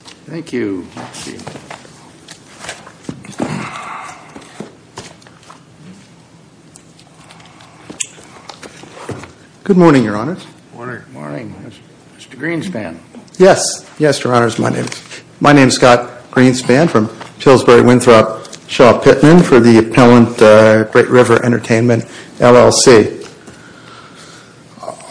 Thank you. Good morning, Your Honors. Good morning. Mr. Greenspan. Yes. Yes, Your Honors. My name is Scott Greenspan from Pillsbury-Winthrop Shaw Pittman for the appellant at Great River Entertainment, LLC.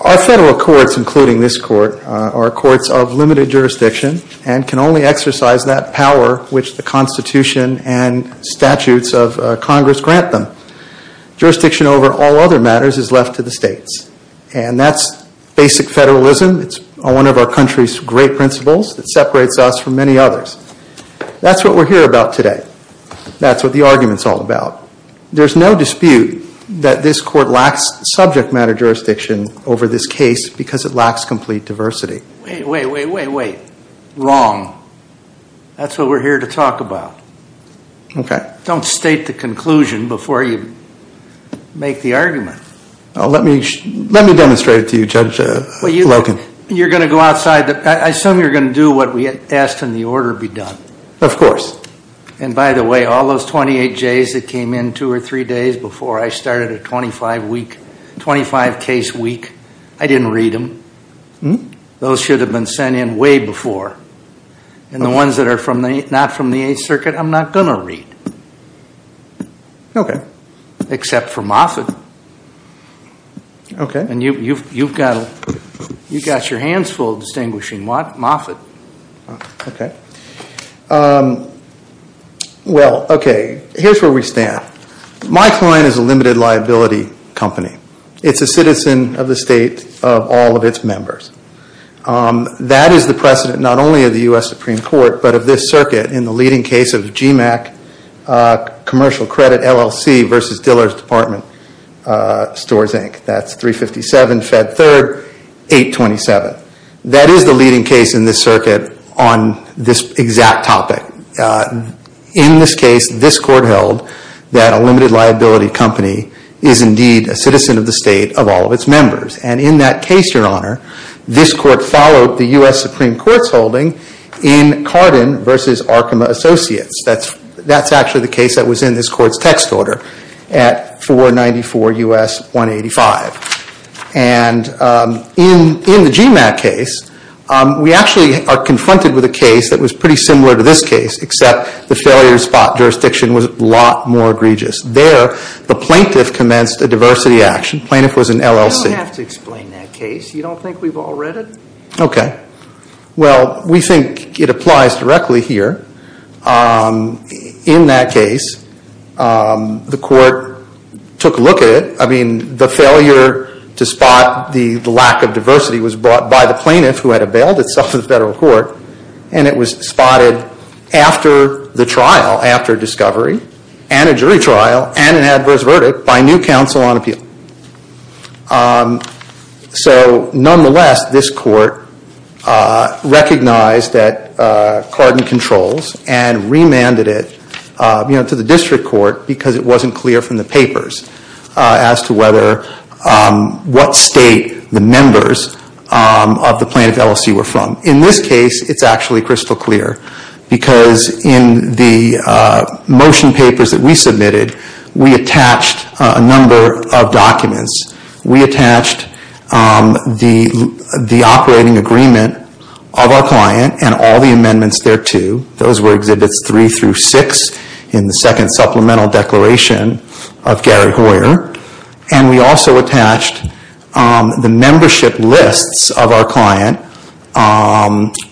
Our federal courts, including this court, are courts of limited jurisdiction and can only exercise that power which the Constitution and statutes of Congress grant them. Jurisdiction over all other matters is left to the states. And that's basic federalism. It's one of our country's great principles that separates us from many others. That's what we're here about today. That's what the argument's all about. There's no dispute that this court lacks subject matter jurisdiction over this case because it lacks complete diversity. Wait, wait, wait, wait, wait. Wrong. That's what we're here to talk about. Don't state the conclusion before you make the argument. Let me demonstrate it to you, Judge Logan. You're going to go outside. I assume you're going to do what we asked in the order be done. Of course. And by the way, all those 28Js that came in two or three days before I started a 25-case week, I didn't read them. Those should have been sent in way before. And the ones that are not from the Eighth Circuit, I'm not going to read, except for Moffitt. Okay. And you've got your hands full distinguishing Moffitt. Okay. Well, okay, here's where we stand. My client is a limited liability company. It's a citizen of the state of all of its members. That is the precedent not only of the U.S. Supreme Court, but of this circuit in the leading case of GMAC Commercial Credit LLC versus Dillard's Department Stores, Inc. That's 357 Fed 3rd, 827. That is the leading case in this circuit on this exact topic. In this case, this court held that a limited liability company is indeed a citizen of the state of all of its members. And in that case, Your Honor, this court followed the U.S. Supreme Court's holding in Cardin versus Arkema Associates. That's actually the case that was in this court's text order at 494 U.S. 185. And in the GMAC case, we actually are confronted with a case that was pretty similar to this case except the failure spot jurisdiction was a lot more egregious. There, the plaintiff commenced a diversity action. Plaintiff was an LLC. You don't have to explain that case. You don't think we've all read it? Okay. Well, we think it applies directly here. In that case, the court took a look at it. I mean, the failure to spot the lack of diversity was brought by the plaintiff who had availed itself of the federal court. And it was spotted after the trial, after discovery, and a jury trial, and an adverse verdict by new counsel on appeal. So nonetheless, this court recognized that Cardin controls and remanded it, you know, to the district court because it wasn't clear from the papers as to whether, what state the members of the plaintiff LLC were from. In this case, it's actually crystal clear because in the motion papers that we submitted, we attached a number of documents. We attached the operating agreement of our client and all the amendments thereto. Those were Exhibits 3 through 6 in the second supplemental declaration of Gary Hoyer. And we also attached the membership lists of our client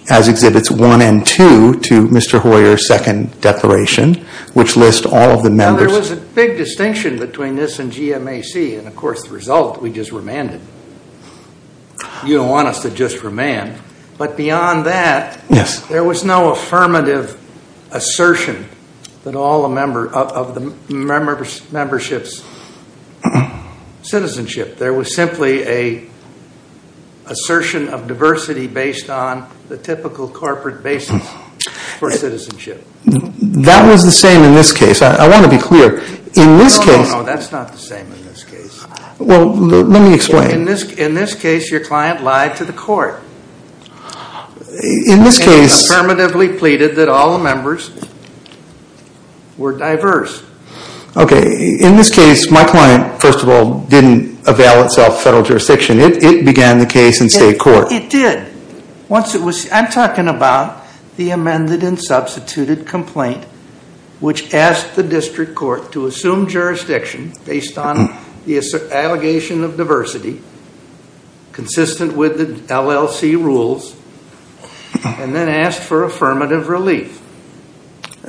as Exhibits 1 and 2 to Mr. Hoyer's second declaration, which lists all of the members. Now, there was a big distinction between this and GMAC, and of course, the result, we just remanded. You don't want us to just remand. But beyond that, there was no affirmative assertion of the membership's citizenship. There was simply an assertion of diversity based on the typical corporate basis for citizenship. That was the same in this case. I want to be clear. No, no, no. That's not the same in this case. Well, let me explain. In this case, your client lied to the court and affirmatively pleaded that all the members were diverse. Okay. In this case, my client, first of all, didn't avail itself federal jurisdiction. It began the case in state court. It did. I'm talking about the amended and substituted complaint, which asked the district court to assume jurisdiction based on the allegation of diversity, consistent with the LLC rules, and then asked for affirmative relief.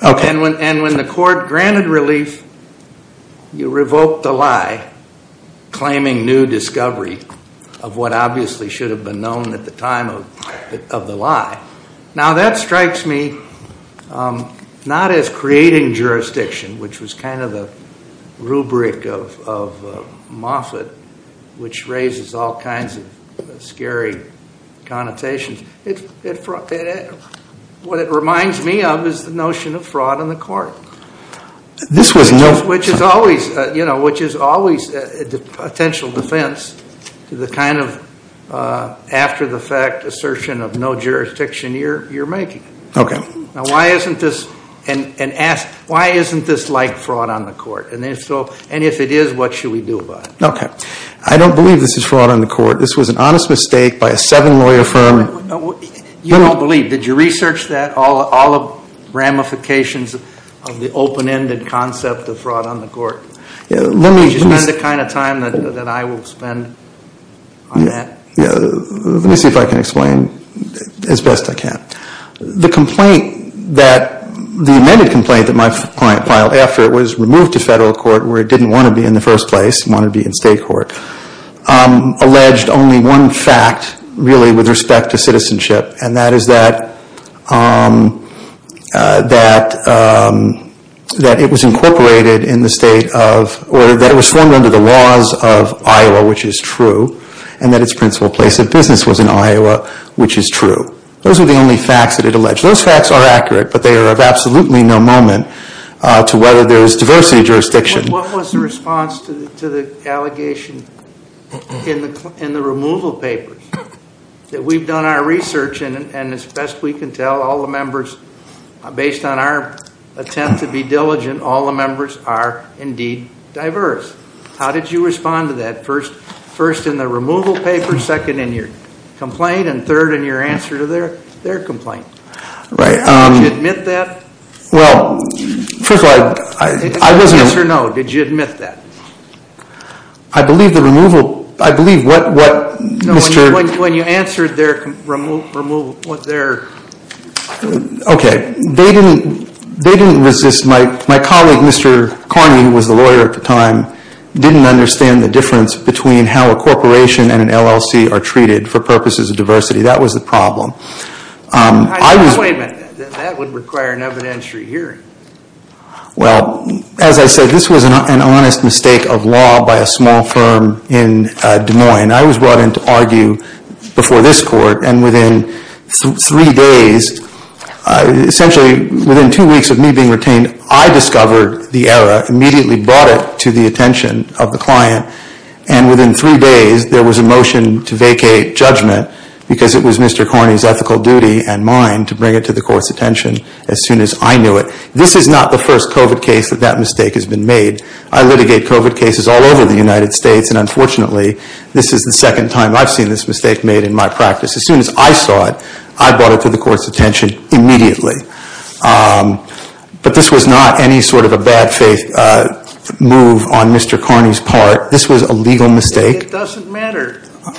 And when the court granted relief, you revoked the lie, claiming new discovery of what obviously should have been known at the time of the lie. Now that strikes me not as creating jurisdiction, which was kind of the rubric of Moffitt, which raises all kinds of scary connotations. What it reminds me of is the notion of fraud in the court, which is always a potential defense to the kind of after-the-fact assertion of no jurisdiction you're making. Okay. Now why isn't this like fraud on the court? And if it is, what should we do about it? Okay. I don't believe this is fraud on the court. This was an honest mistake by a seven-lawyer firm. You don't believe. Did you research that, all the ramifications of the open-ended concept of fraud on the court? Did you spend the kind of time that I will spend on that? Let me see if I can explain as best I can. The complaint that, the amended complaint that my client filed after it was removed to federal court where it didn't want to be in the first place, wanted to be in state court, alleged only one fact, really, with respect to citizenship. And that is that it was incorporated in the state of, or that it was formed under the laws of Iowa, which is true, and that its principal place of business was in Iowa, which is true. Those are the only facts that it alleged. Those facts are accurate, but they are of absolutely no moment to whether there is diversity of jurisdiction. What was the response to the allegation in the removal papers? That we've done our research, and as best we can tell, all the members, based on our attempt to be diligent, all the members are, indeed, diverse. How did you respond to that? First in the removal papers, second in your complaint, and third in your answer to their complaint. Right. Did you admit that? Well, first of all, I wasn't... Yes or no, did you admit that? I believe the removal, I believe what, what, Mr. No, when you answered their removal, what their... Okay. They didn't, they didn't resist my, my colleague, Mr. Carney, who was the lawyer at the time, didn't understand the difference between how a corporation and an LLC are treated for purposes of diversity. That was the problem. I was... Wait a minute. That would require an evidentiary hearing. Well, as I said, this was an honest mistake of law by a small firm in Des Moines. I was brought in to argue before this court, and within three days, essentially within two weeks of me being retained, I discovered the error, immediately brought it to the attention of the client, and within three days, there was a motion to vacate judgment because it was Mr. Carney's ethical duty and mine to bring it to the court's attention as soon as I knew it. This is not the first COVID case that that mistake has been made. I litigate COVID cases all over the United States, and unfortunately, this is the second time I've seen this mistake made in my practice. As soon as I saw it, I brought it to the court's attention immediately. But this was not any sort of a bad faith move on Mr. Carney's part. This was a legal mistake. It doesn't matter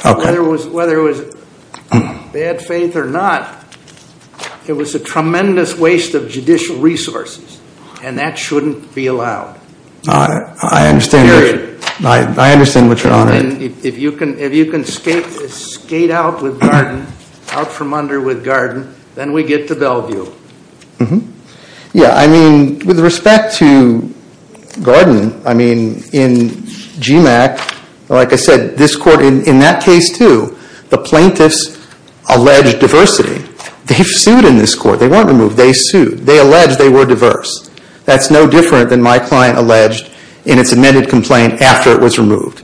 whether it was, whether it was bad faith or not. It was a tremendous waste of judicial resources, and that shouldn't be allowed. Period. I understand what you're on about. If you can skate out with Garden, out from under with Garden, then we get to Bellevue. Mm-hmm. Yeah, I mean, with respect to Garden, I mean, in GMAC, like I said, this court, in that They've sued in this court. They weren't removed. They sued. They alleged they were diverse. That's no different than my client alleged in its amended complaint after it was removed.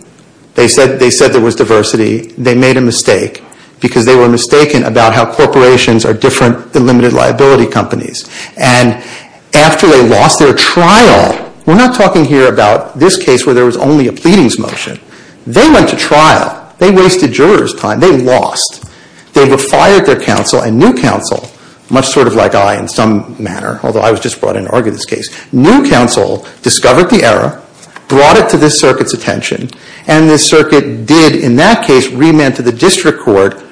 They said there was diversity. They made a mistake because they were mistaken about how corporations are different than limited liability companies. And after they lost their trial, we're not talking here about this case where there was only a pleadings motion. They went to trial. They wasted jurors' time. They lost. They had fired their counsel and new counsel, much sort of like I in some manner, although I was just brought in to argue this case. New counsel discovered the error, brought it to this circuit's attention, and the circuit did, in that case, remand to the district court.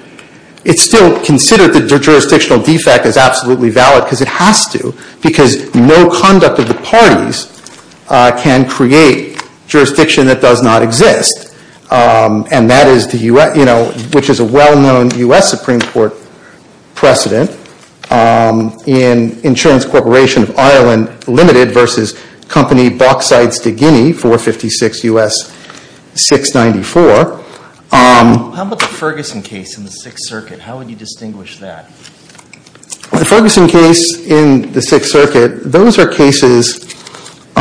It still considered the jurisdictional defect as absolutely valid because it has to because no conduct of the parties can create jurisdiction that does not exist. And that is the U.S. You know, which is a well-known U.S. Supreme Court precedent in Insurance Corporation of Ireland Limited versus Company Bauxite Stegini, 456 U.S. 694. How about the Ferguson case in the Sixth Circuit? How would you distinguish that? The Ferguson case in the Sixth Circuit, those are cases –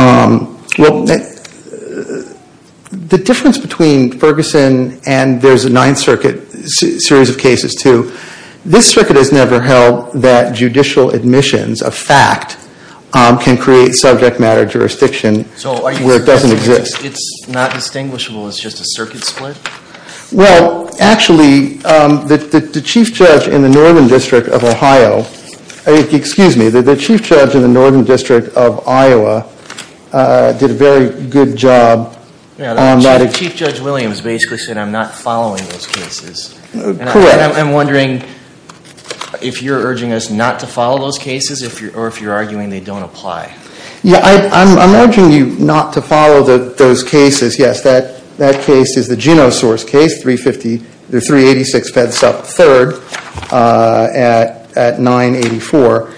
well, the difference between Ferguson and there's a Ninth Circuit series of cases, too. This circuit has never held that judicial admissions of fact can create subject matter jurisdiction where it doesn't exist. So are you suggesting it's not distinguishable as just a circuit split? Well, actually, the chief judge in the Northern District of Ohio – excuse me, the chief judge in the Northern District of Iowa did a very good job. Chief Judge Williams basically said, I'm not following those cases. Correct. And I'm wondering if you're urging us not to follow those cases or if you're arguing they don't apply. Yeah, I'm urging you not to follow those cases. Yes, that case is the Gino source case, 386 Fedsup 3rd at 984.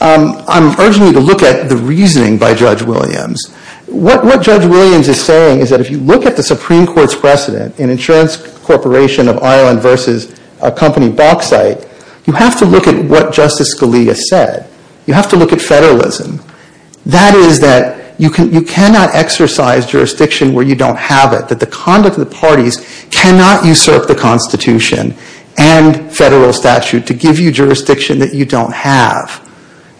I'm urging you to look at the reasoning by Judge Williams. What Judge Williams is saying is that if you look at the Supreme Court's precedent in insurance corporation of Ireland versus a company Bauxite, you have to look at what Justice Scalia said. You have to look at federalism. That is that you cannot exercise jurisdiction where you don't have it, that the conduct of the parties cannot usurp the Constitution and federal statute to give you jurisdiction that you don't have.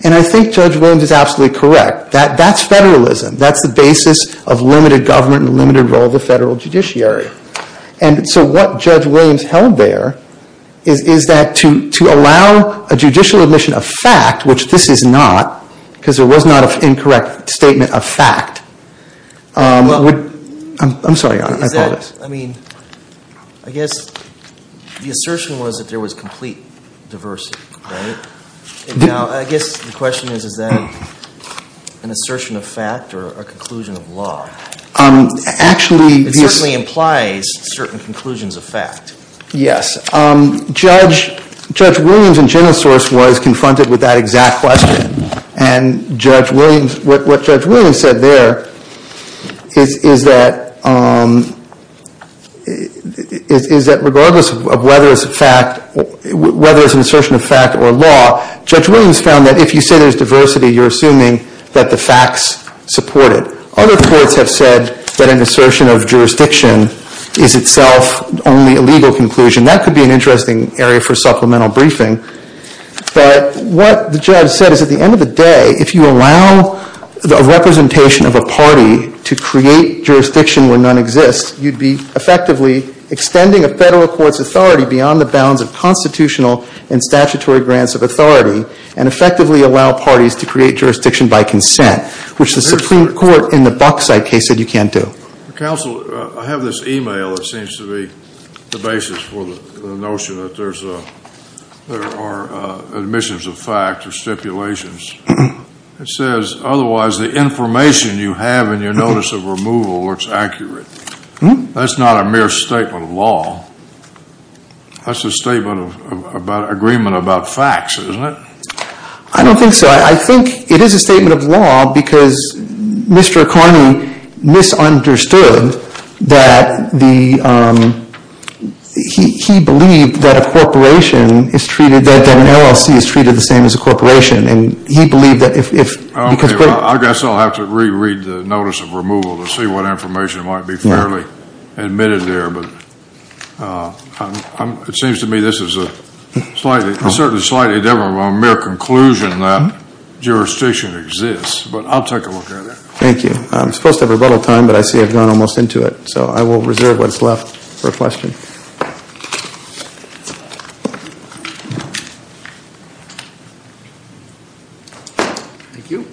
And I think Judge Williams is absolutely correct. That's federalism. That's the basis of limited government and limited role of the federal judiciary. And so what Judge Williams held there is that to allow a judicial admission of fact, which this is not, because there was not an incorrect statement of fact. I'm sorry, Your Honor. I apologize. I mean, I guess the assertion was that there was complete diversity, right? Now, I guess the question is, is that an assertion of fact or a conclusion of law? Actually, this It certainly implies certain conclusions of fact. Yes. Judge Williams in general source was confronted with that exact question. And what Judge Williams said there is that regardless of whether it's a fact, whether it's an assertion of fact or a law, Judge Williams found that if you say there's diversity, you're assuming that the facts support it. Other courts have said that an assertion of jurisdiction is itself only a legal conclusion. That could be an interesting area for supplemental briefing. But what the judge said is at the end of the day, if you allow the representation of a party to create jurisdiction where none exists, you'd be effectively extending a federal court's authority beyond the bounds of constitutional and statutory grants of authority and effectively allow parties to create jurisdiction by consent, which the Supreme Court in the Buckside case said you can't do. Counsel, I have this e-mail that seems to be the basis for the notion that there are admissions of fact or stipulations. It says, otherwise, the information you have in your notice of removal looks accurate. That's not a mere statement of law. That's a statement of agreement about facts, isn't it? I don't think so. I think it is a statement of law because Mr. Carney misunderstood that he believed that an LLC is treated the same as a corporation. I guess I'll have to re-read the notice of removal to see what information might be fairly admitted there. It seems to me this is certainly slightly different from a mere conclusion that jurisdiction exists. But I'll take a look at it. Thank you. I'm supposed to have rebuttal time, but I see I've gone almost into it. So I will reserve what's left for questions. Thank you.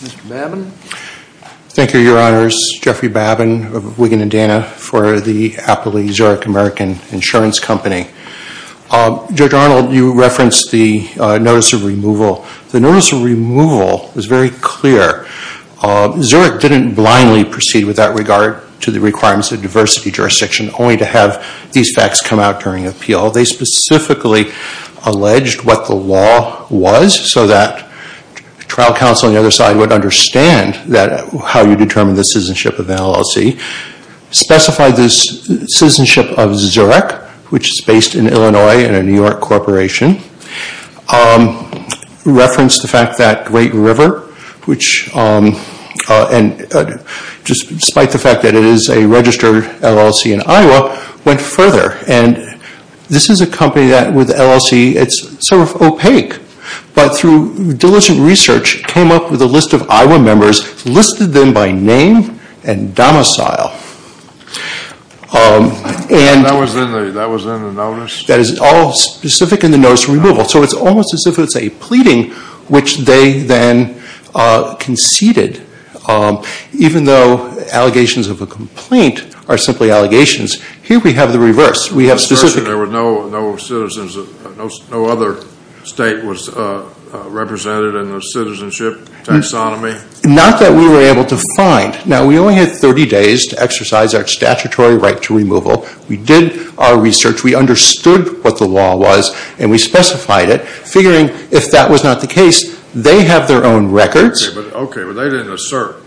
Mr. Babin? Thank you, Your Honors. Jeffrey Babin of Wiggin & Dana for the Appley-Zurich American Insurance Company. Judge Arnold, you referenced the notice of removal. The notice of removal was very clear. Zurich didn't blindly proceed with that regard to the requirements of diversity jurisdiction, only to have these facts come out during appeal. They specifically alleged what the law was so that trial counsel on the other side would understand how you determine the citizenship of an LLC. Specified the citizenship of Zurich, which is based in Illinois and a New York corporation. Referenced the fact that Great River, despite the fact that it is a registered LLC in Iowa, went further. And this is a company that with LLC, it's sort of opaque. But through diligent research, came up with a list of Iowa members, listed them by name and domicile. And that was in the notice? That is all specific in the notice of removal. So it's almost as if it's a pleading, which they then conceded. Even though allegations of a complaint are simply allegations, here we have the reverse. We have specific. There were no citizens, no other state was represented in the citizenship taxonomy? Not that we were able to find. Now, we only had 30 days to exercise our statutory right to removal. We did our research. We understood what the law was and we specified it. Figuring if that was not the case, they have their own records. Okay, but they didn't assert.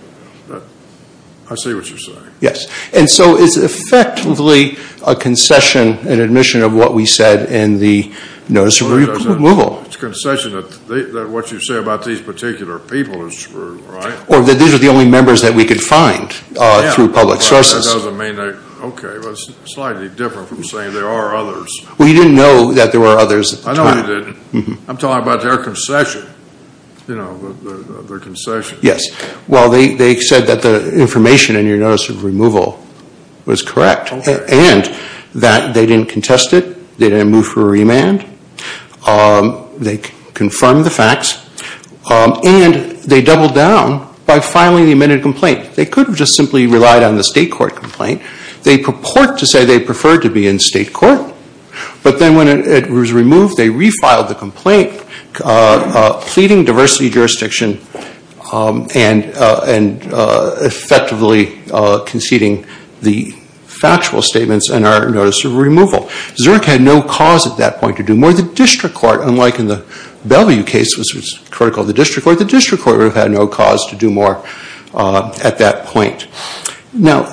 I see what you're saying. Yes. And so it's effectively a concession and admission of what we said in the notice of removal. It's a concession that what you say about these particular people is true, right? Or that these are the only members that we could find through public sources. Yeah, but that doesn't mean that, okay, it's slightly different from saying there are others. Well, you didn't know that there were others at the time. I know you didn't. I'm talking about their concession. You know, their concession. Yes. Well, they said that the information in your notice of removal was correct. Okay. And that they didn't contest it. They didn't move for a remand. They confirmed the facts. And they doubled down by filing the amended complaint. They could have just simply relied on the state court complaint. They purport to say they preferred to be in state court. But then when it was removed, they refiled the complaint, pleading diversity jurisdiction and effectively conceding the factual statements in our notice of removal. Zerk had no cause at that point to do more. The district court, unlike in the Bellevue case, which was critical of the district court, the district court would have had no cause to do more at that point. Now,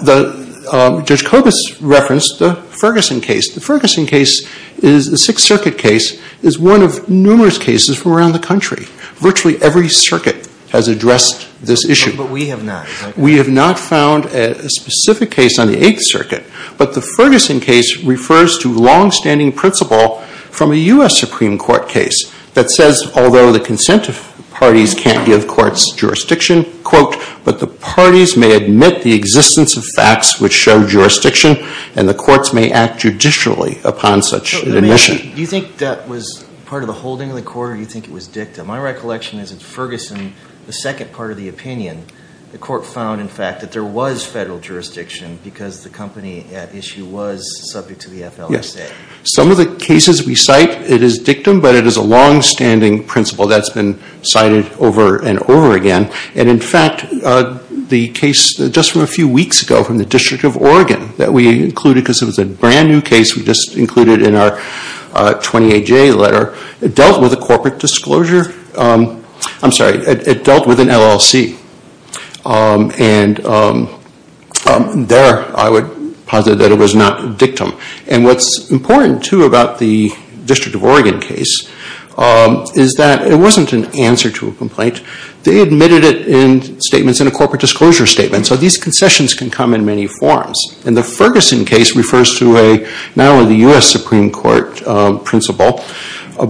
Judge Kobus referenced the Ferguson case. The Ferguson case is the Sixth Circuit case is one of numerous cases from around the country. Virtually every circuit has addressed this issue. But we have not. We have not found a specific case on the Eighth Circuit. But the Ferguson case refers to longstanding principle from a U.S. Supreme Court case that says although the consent of parties can't give courts jurisdiction, quote, but the parties may admit the existence of facts which show jurisdiction and the courts may act judicially upon such admission. Do you think that was part of the holding of the court or do you think it was dictum? My recollection is that Ferguson, the second part of the opinion, the court found in fact that there was federal jurisdiction because the company at issue was subject to the FLSA. Yes. Some of the cases we cite, it is dictum, but it is a longstanding principle that's been cited over and over again. And in fact, the case just from a few weeks ago from the District of Oregon that we included because it was a brand new case we just included in our 28-J letter, it dealt with a corporate disclosure. I'm sorry, it dealt with an LLC. And there I would posit that it was not dictum. And what's important too about the District of Oregon case is that it wasn't an answer to a complaint. They admitted it in statements in a corporate disclosure statement. So these concessions can come in many forms. And the Ferguson case refers to not only the U.S. Supreme Court principle,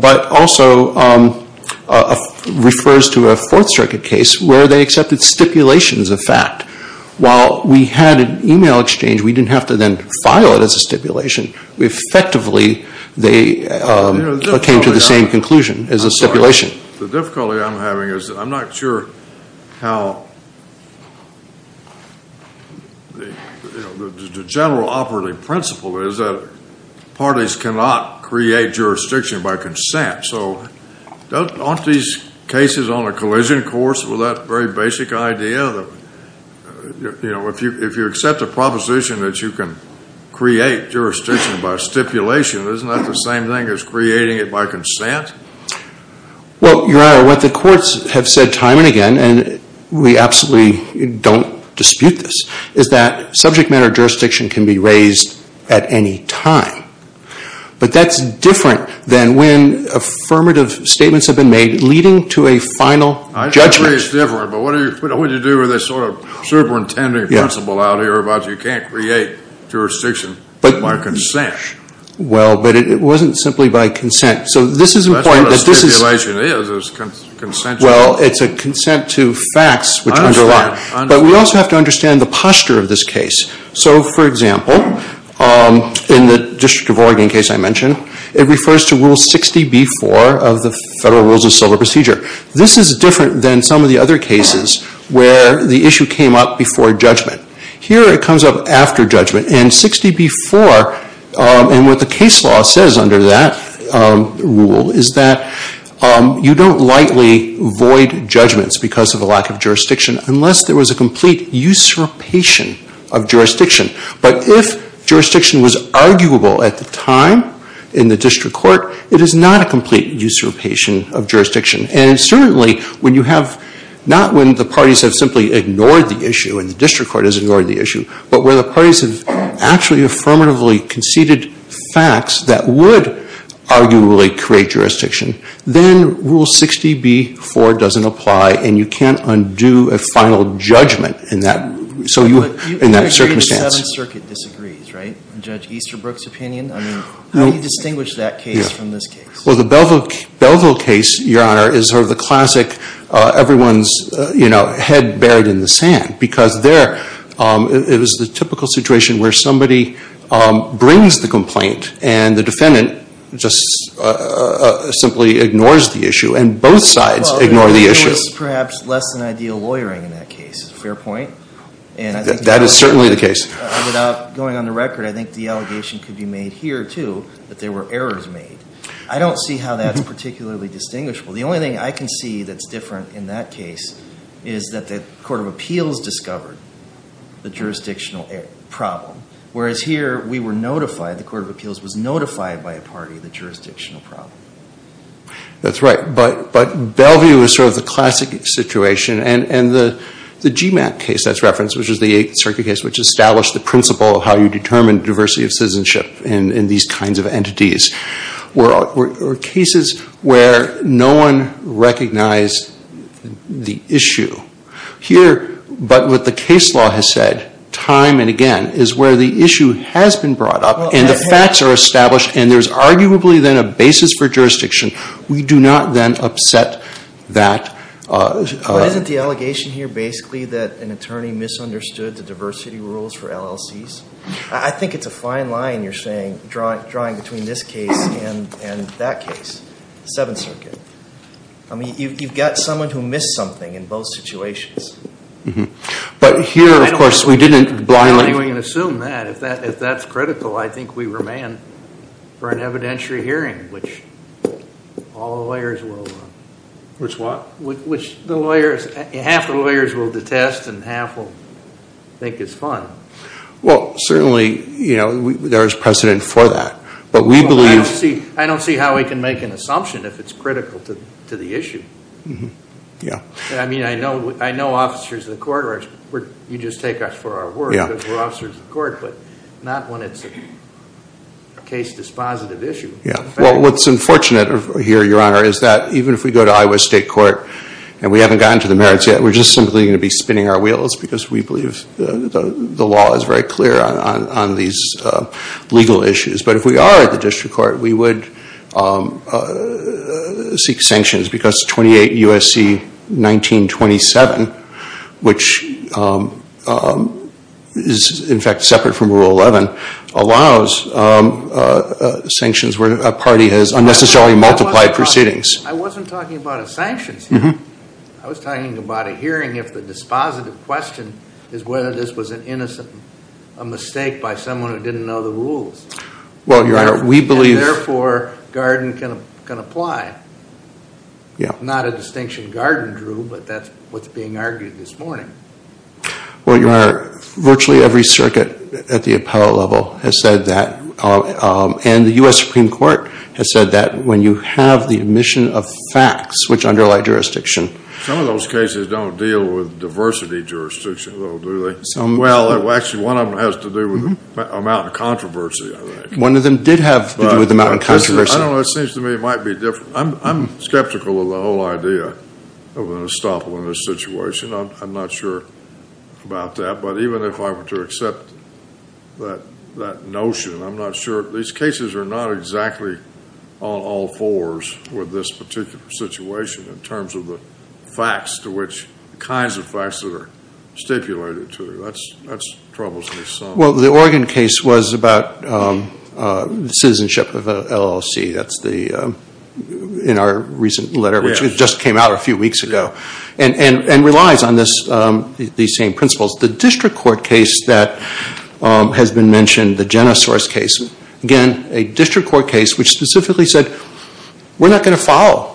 but also refers to a Fourth Circuit case where they accepted stipulations of fact. While we had an email exchange, we didn't have to then file it as a stipulation. Effectively, they came to the same conclusion as a stipulation. The difficulty I'm having is I'm not sure how the general operating principle is that parties cannot create jurisdiction by consent. So aren't these cases on a collision course with that very basic idea that if you accept a proposition that you can create jurisdiction by stipulation, isn't that the same thing as creating it by consent? Well, Your Honor, what the courts have said time and again, and we absolutely don't dispute this, is that subject matter jurisdiction can be raised at any time. But that's different than when affirmative statements have been made leading to a final judgment. I agree it's different. But what do you do with this sort of superintending principle out here about you can't create jurisdiction by consent? Well, but it wasn't simply by consent. So this is important. That's what a stipulation is. It's a consent to what? Well, it's a consent to facts which underlie. I understand. But we also have to understand the posture of this case. So, for example, in the District of Oregon case I mentioned, it refers to Rule 60b-4 of the Federal Rules of Civil Procedure. This is different than some of the other cases where the issue came up before judgment. Here it comes up after judgment. And 60b-4, and what the case law says under that rule, is that you don't lightly void judgments because of a lack of jurisdiction unless there was a complete usurpation of jurisdiction. But if jurisdiction was arguable at the time in the district court, it is not a complete usurpation of jurisdiction. And certainly when you have not when the parties have simply ignored the issue and the district court has ignored the issue, but when the parties have actually affirmatively conceded facts that would arguably create jurisdiction, then Rule 60b-4 doesn't apply and you can't undo a final judgment in that circumstance. But you agree the Seventh Circuit disagrees, right? Judge Easterbrook's opinion? I mean, how do you distinguish that case from this case? Well, the Belleville case, Your Honor, is sort of the classic everyone's head buried in the sand because there it was the typical situation where somebody brings the complaint and the defendant just simply ignores the issue and both sides ignore the issue. Well, there was perhaps less than ideal lawyering in that case. Fair point. That is certainly the case. Without going on the record, I think the allegation could be made here too that there were errors made. I don't see how that's particularly distinguishable. The only thing I can see that's different in that case is that the Court of Appeals discovered the jurisdictional problem, whereas here we were notified, the Court of Appeals was notified by a party, the jurisdictional problem. That's right. But Belleville is sort of the classic situation and the GMAT case that's referenced, which is the Eighth Circuit case, which established the principle of how you determine diversity of citizenship in these kinds of entities, were cases where no one recognized the issue. Here, but what the case law has said time and again, is where the issue has been brought up and the facts are established and there's arguably then a basis for jurisdiction. We do not then upset that. But isn't the allegation here basically that an attorney misunderstood the diversity rules for LLCs? I think it's a fine line you're drawing between this case and that case, the Seventh Circuit. You've got someone who missed something in both situations. But here, of course, we didn't blindly assume that. If that's critical, I think we remain for an evidentiary hearing, which all the lawyers will... Which what? Which half the lawyers will detest and half will think it's fun. Well, certainly, you know, there is precedent for that. But we believe... I don't see how we can make an assumption if it's critical to the issue. Yeah. I mean, I know officers of the court are... You just take us for our word because we're officers of the court, but not when it's a case dispositive issue. Well, what's unfortunate here, Your Honor, is that even if we go to Iowa State Court and we haven't gotten to the merits yet, we're just simply going to be spinning our wheels because we believe the law is very clear on these legal issues. But if we are at the district court, we would seek sanctions because 28 U.S.C. 1927, which is, in fact, separate from Rule 11, allows sanctions where a party has unnecessarily multiplied proceedings. I wasn't talking about a sanctions hearing. I was talking about a hearing if the dispositive question is whether this was an innocent mistake by someone who didn't know the rules. Well, Your Honor, we believe... And therefore, Garden can apply. Not a distinction Garden drew, but that's what's being argued this morning. Well, Your Honor, virtually every circuit at the appellate level has said that, and the U.S. Supreme Court has said that when you have the omission of facts to switch underlying jurisdiction. Some of those cases don't deal with diversity jurisdiction, though, do they? Well, actually, one of them has to do with the amount of controversy, I think. One of them did have to do with the amount of controversy. I don't know. It seems to me it might be different. I'm skeptical of the whole idea of an estoppel in this situation. I'm not sure about that. But even if I were to accept that notion, I'm not sure. These cases are not exactly on all fours with this particular situation in terms of the facts to which the kinds of facts that are stipulated to them. That troubles me some. Well, the Oregon case was about citizenship of an LLC. That's in our recent letter, which just came out a few weeks ago, and relies on these same principles. The district court case that has been mentioned, the Jenna Source case, again, a district court case which specifically said, we're not going to follow.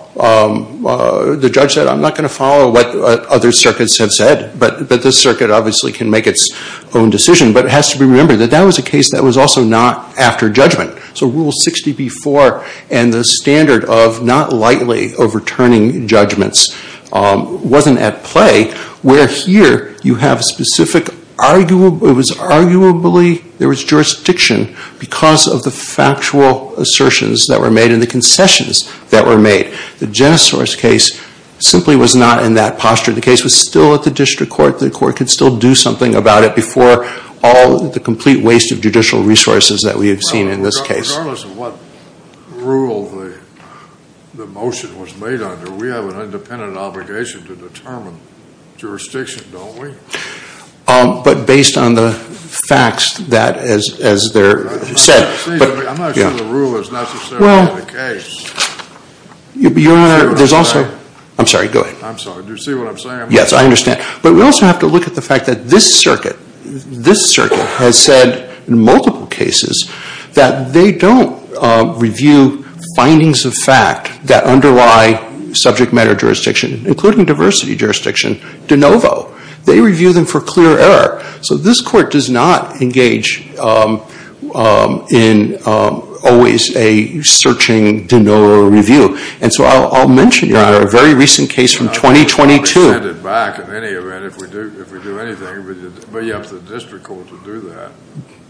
The judge said, I'm not going to follow what other circuits have said, but this circuit obviously can make its own decision. But it has to be remembered that that was a case that was also not after judgment. So Rule 60b-4 and the standard of not lightly overturning judgments wasn't at play, where here you have specific arguably there was jurisdiction because of the factual assertions that were made and the concessions that were made. The Jenna Source case simply was not in that posture. The case was still at the district court. The court could still do something about it before all the complete waste of judicial resources that we have seen in this case. Regardless of what rule the motion was made under, we have an independent obligation to determine jurisdiction, don't we? But based on the facts that as they're said. I'm not sure the rule is necessarily the case. Your Honor, there's also, I'm sorry, go ahead. I'm sorry, do you see what I'm saying? Yes, I understand. But we also have to look at the fact that this circuit, this circuit has said in multiple cases that they don't review findings of fact that underlie subject matter jurisdiction, including diversity jurisdiction, de novo. They review them for clear error. So this court does not engage in always a searching de novo review. And so I'll mention, Your Honor, a very recent case from 2022. I'll send it back in any event if we do anything, but you have the district court to do that.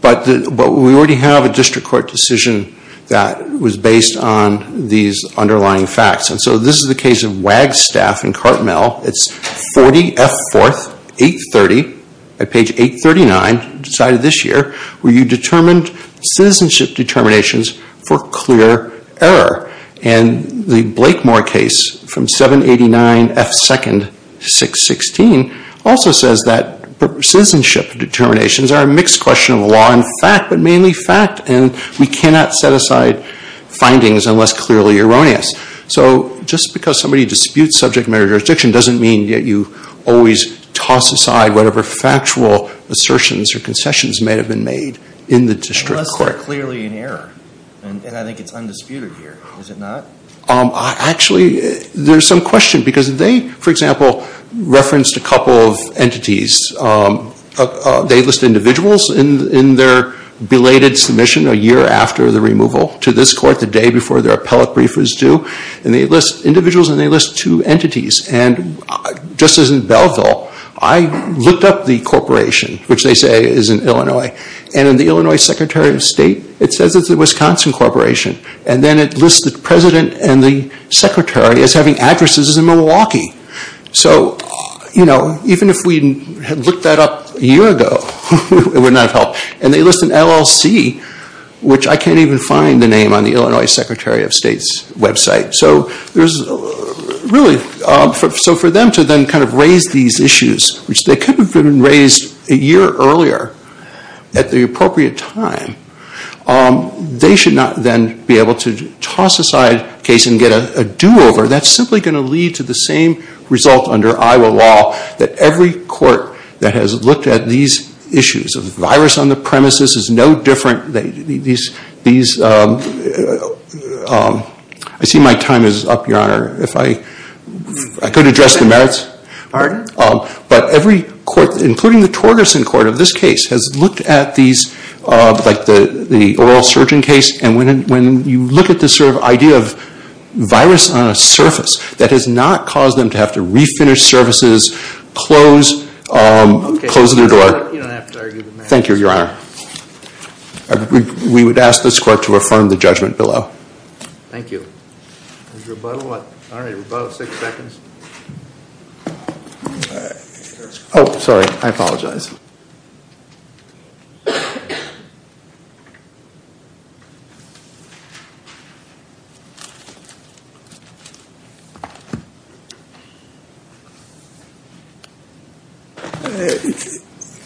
But we already have a district court decision that was based on these underlying facts. And so this is the case of Wagstaff and Cartmel. It's 40F4, 830, at page 839, decided this year, where you determined citizenship determinations for clear error. And the Blakemore case from 789F2, 616, also says that citizenship determinations are a mixed question of law and fact, but mainly fact, and we cannot set aside findings unless clearly erroneous. So just because somebody disputes subject matter jurisdiction doesn't mean that you always toss aside whatever factual assertions or concessions may have been made in the district court. Unless they're clearly in error, and I think it's undisputed here. Is it not? Actually, there's some question, because they, for example, referenced a couple of entities. They list individuals in their belated submission a year after the removal to this court, the day before their appellate brief was due. And they list individuals, and they list two entities. And just as in Belleville, I looked up the corporation, which they say is in Illinois, and in the Illinois Secretary of State, it says it's the Wisconsin Corporation. And then it lists the president and the secretary as having addresses in Milwaukee. So, you know, even if we had looked that up a year ago, it would not have helped. And they list an LLC, which I can't even find the name on the Illinois Secretary of State's website. So there's really, so for them to then kind of raise these issues, which they could have been raised a year earlier at the appropriate time, they should not then be able to toss aside a case and get a do-over. That's simply going to lead to the same result under Iowa law, that every court that has looked at these issues of virus on the premises is no different. I see my time is up, Your Honor. If I could address the merits. Pardon? But every court, including the Torgerson Court of this case, has looked at these, like the oral surgeon case, and when you look at this sort of idea of virus on a surface, that has not caused them to have to refinish surfaces, close their door. Okay, you don't have to argue with me. Thank you, Your Honor. We would ask this court to affirm the judgment below. Thank you. There's rebuttal. All right, rebuttal of six seconds. Oh, sorry. I apologize.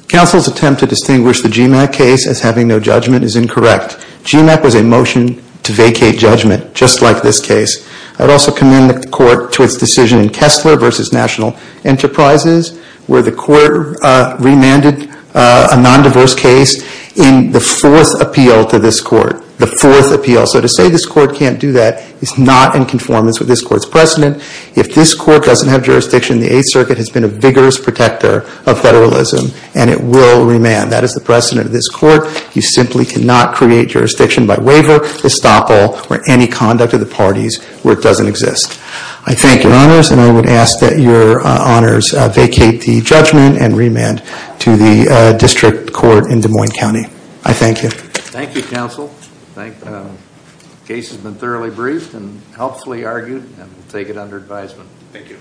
Counsel's attempt to distinguish the GMAC case as having no judgment is incorrect. GMAC was a motion to vacate judgment, just like this case. I would also commend the court to its decision in Kessler v. National Enterprises, where the court remanded a nondiverse case in the fourth appeal to this court. The fourth appeal. So to say this court can't do that is not in conformance with this court's precedent. If this court doesn't have jurisdiction, the Eighth Circuit has been a vigorous protector of federalism, That is the precedent of this court. You simply cannot create jurisdiction by waiver, estoppel, or any conduct of the parties where it doesn't exist. I thank your honors, and I would ask that your honors vacate the judgment and remand to the district court in Des Moines County. I thank you. Thank you, counsel. The case has been thoroughly briefed and helpfully argued, and we'll take it under advisement. Thank you.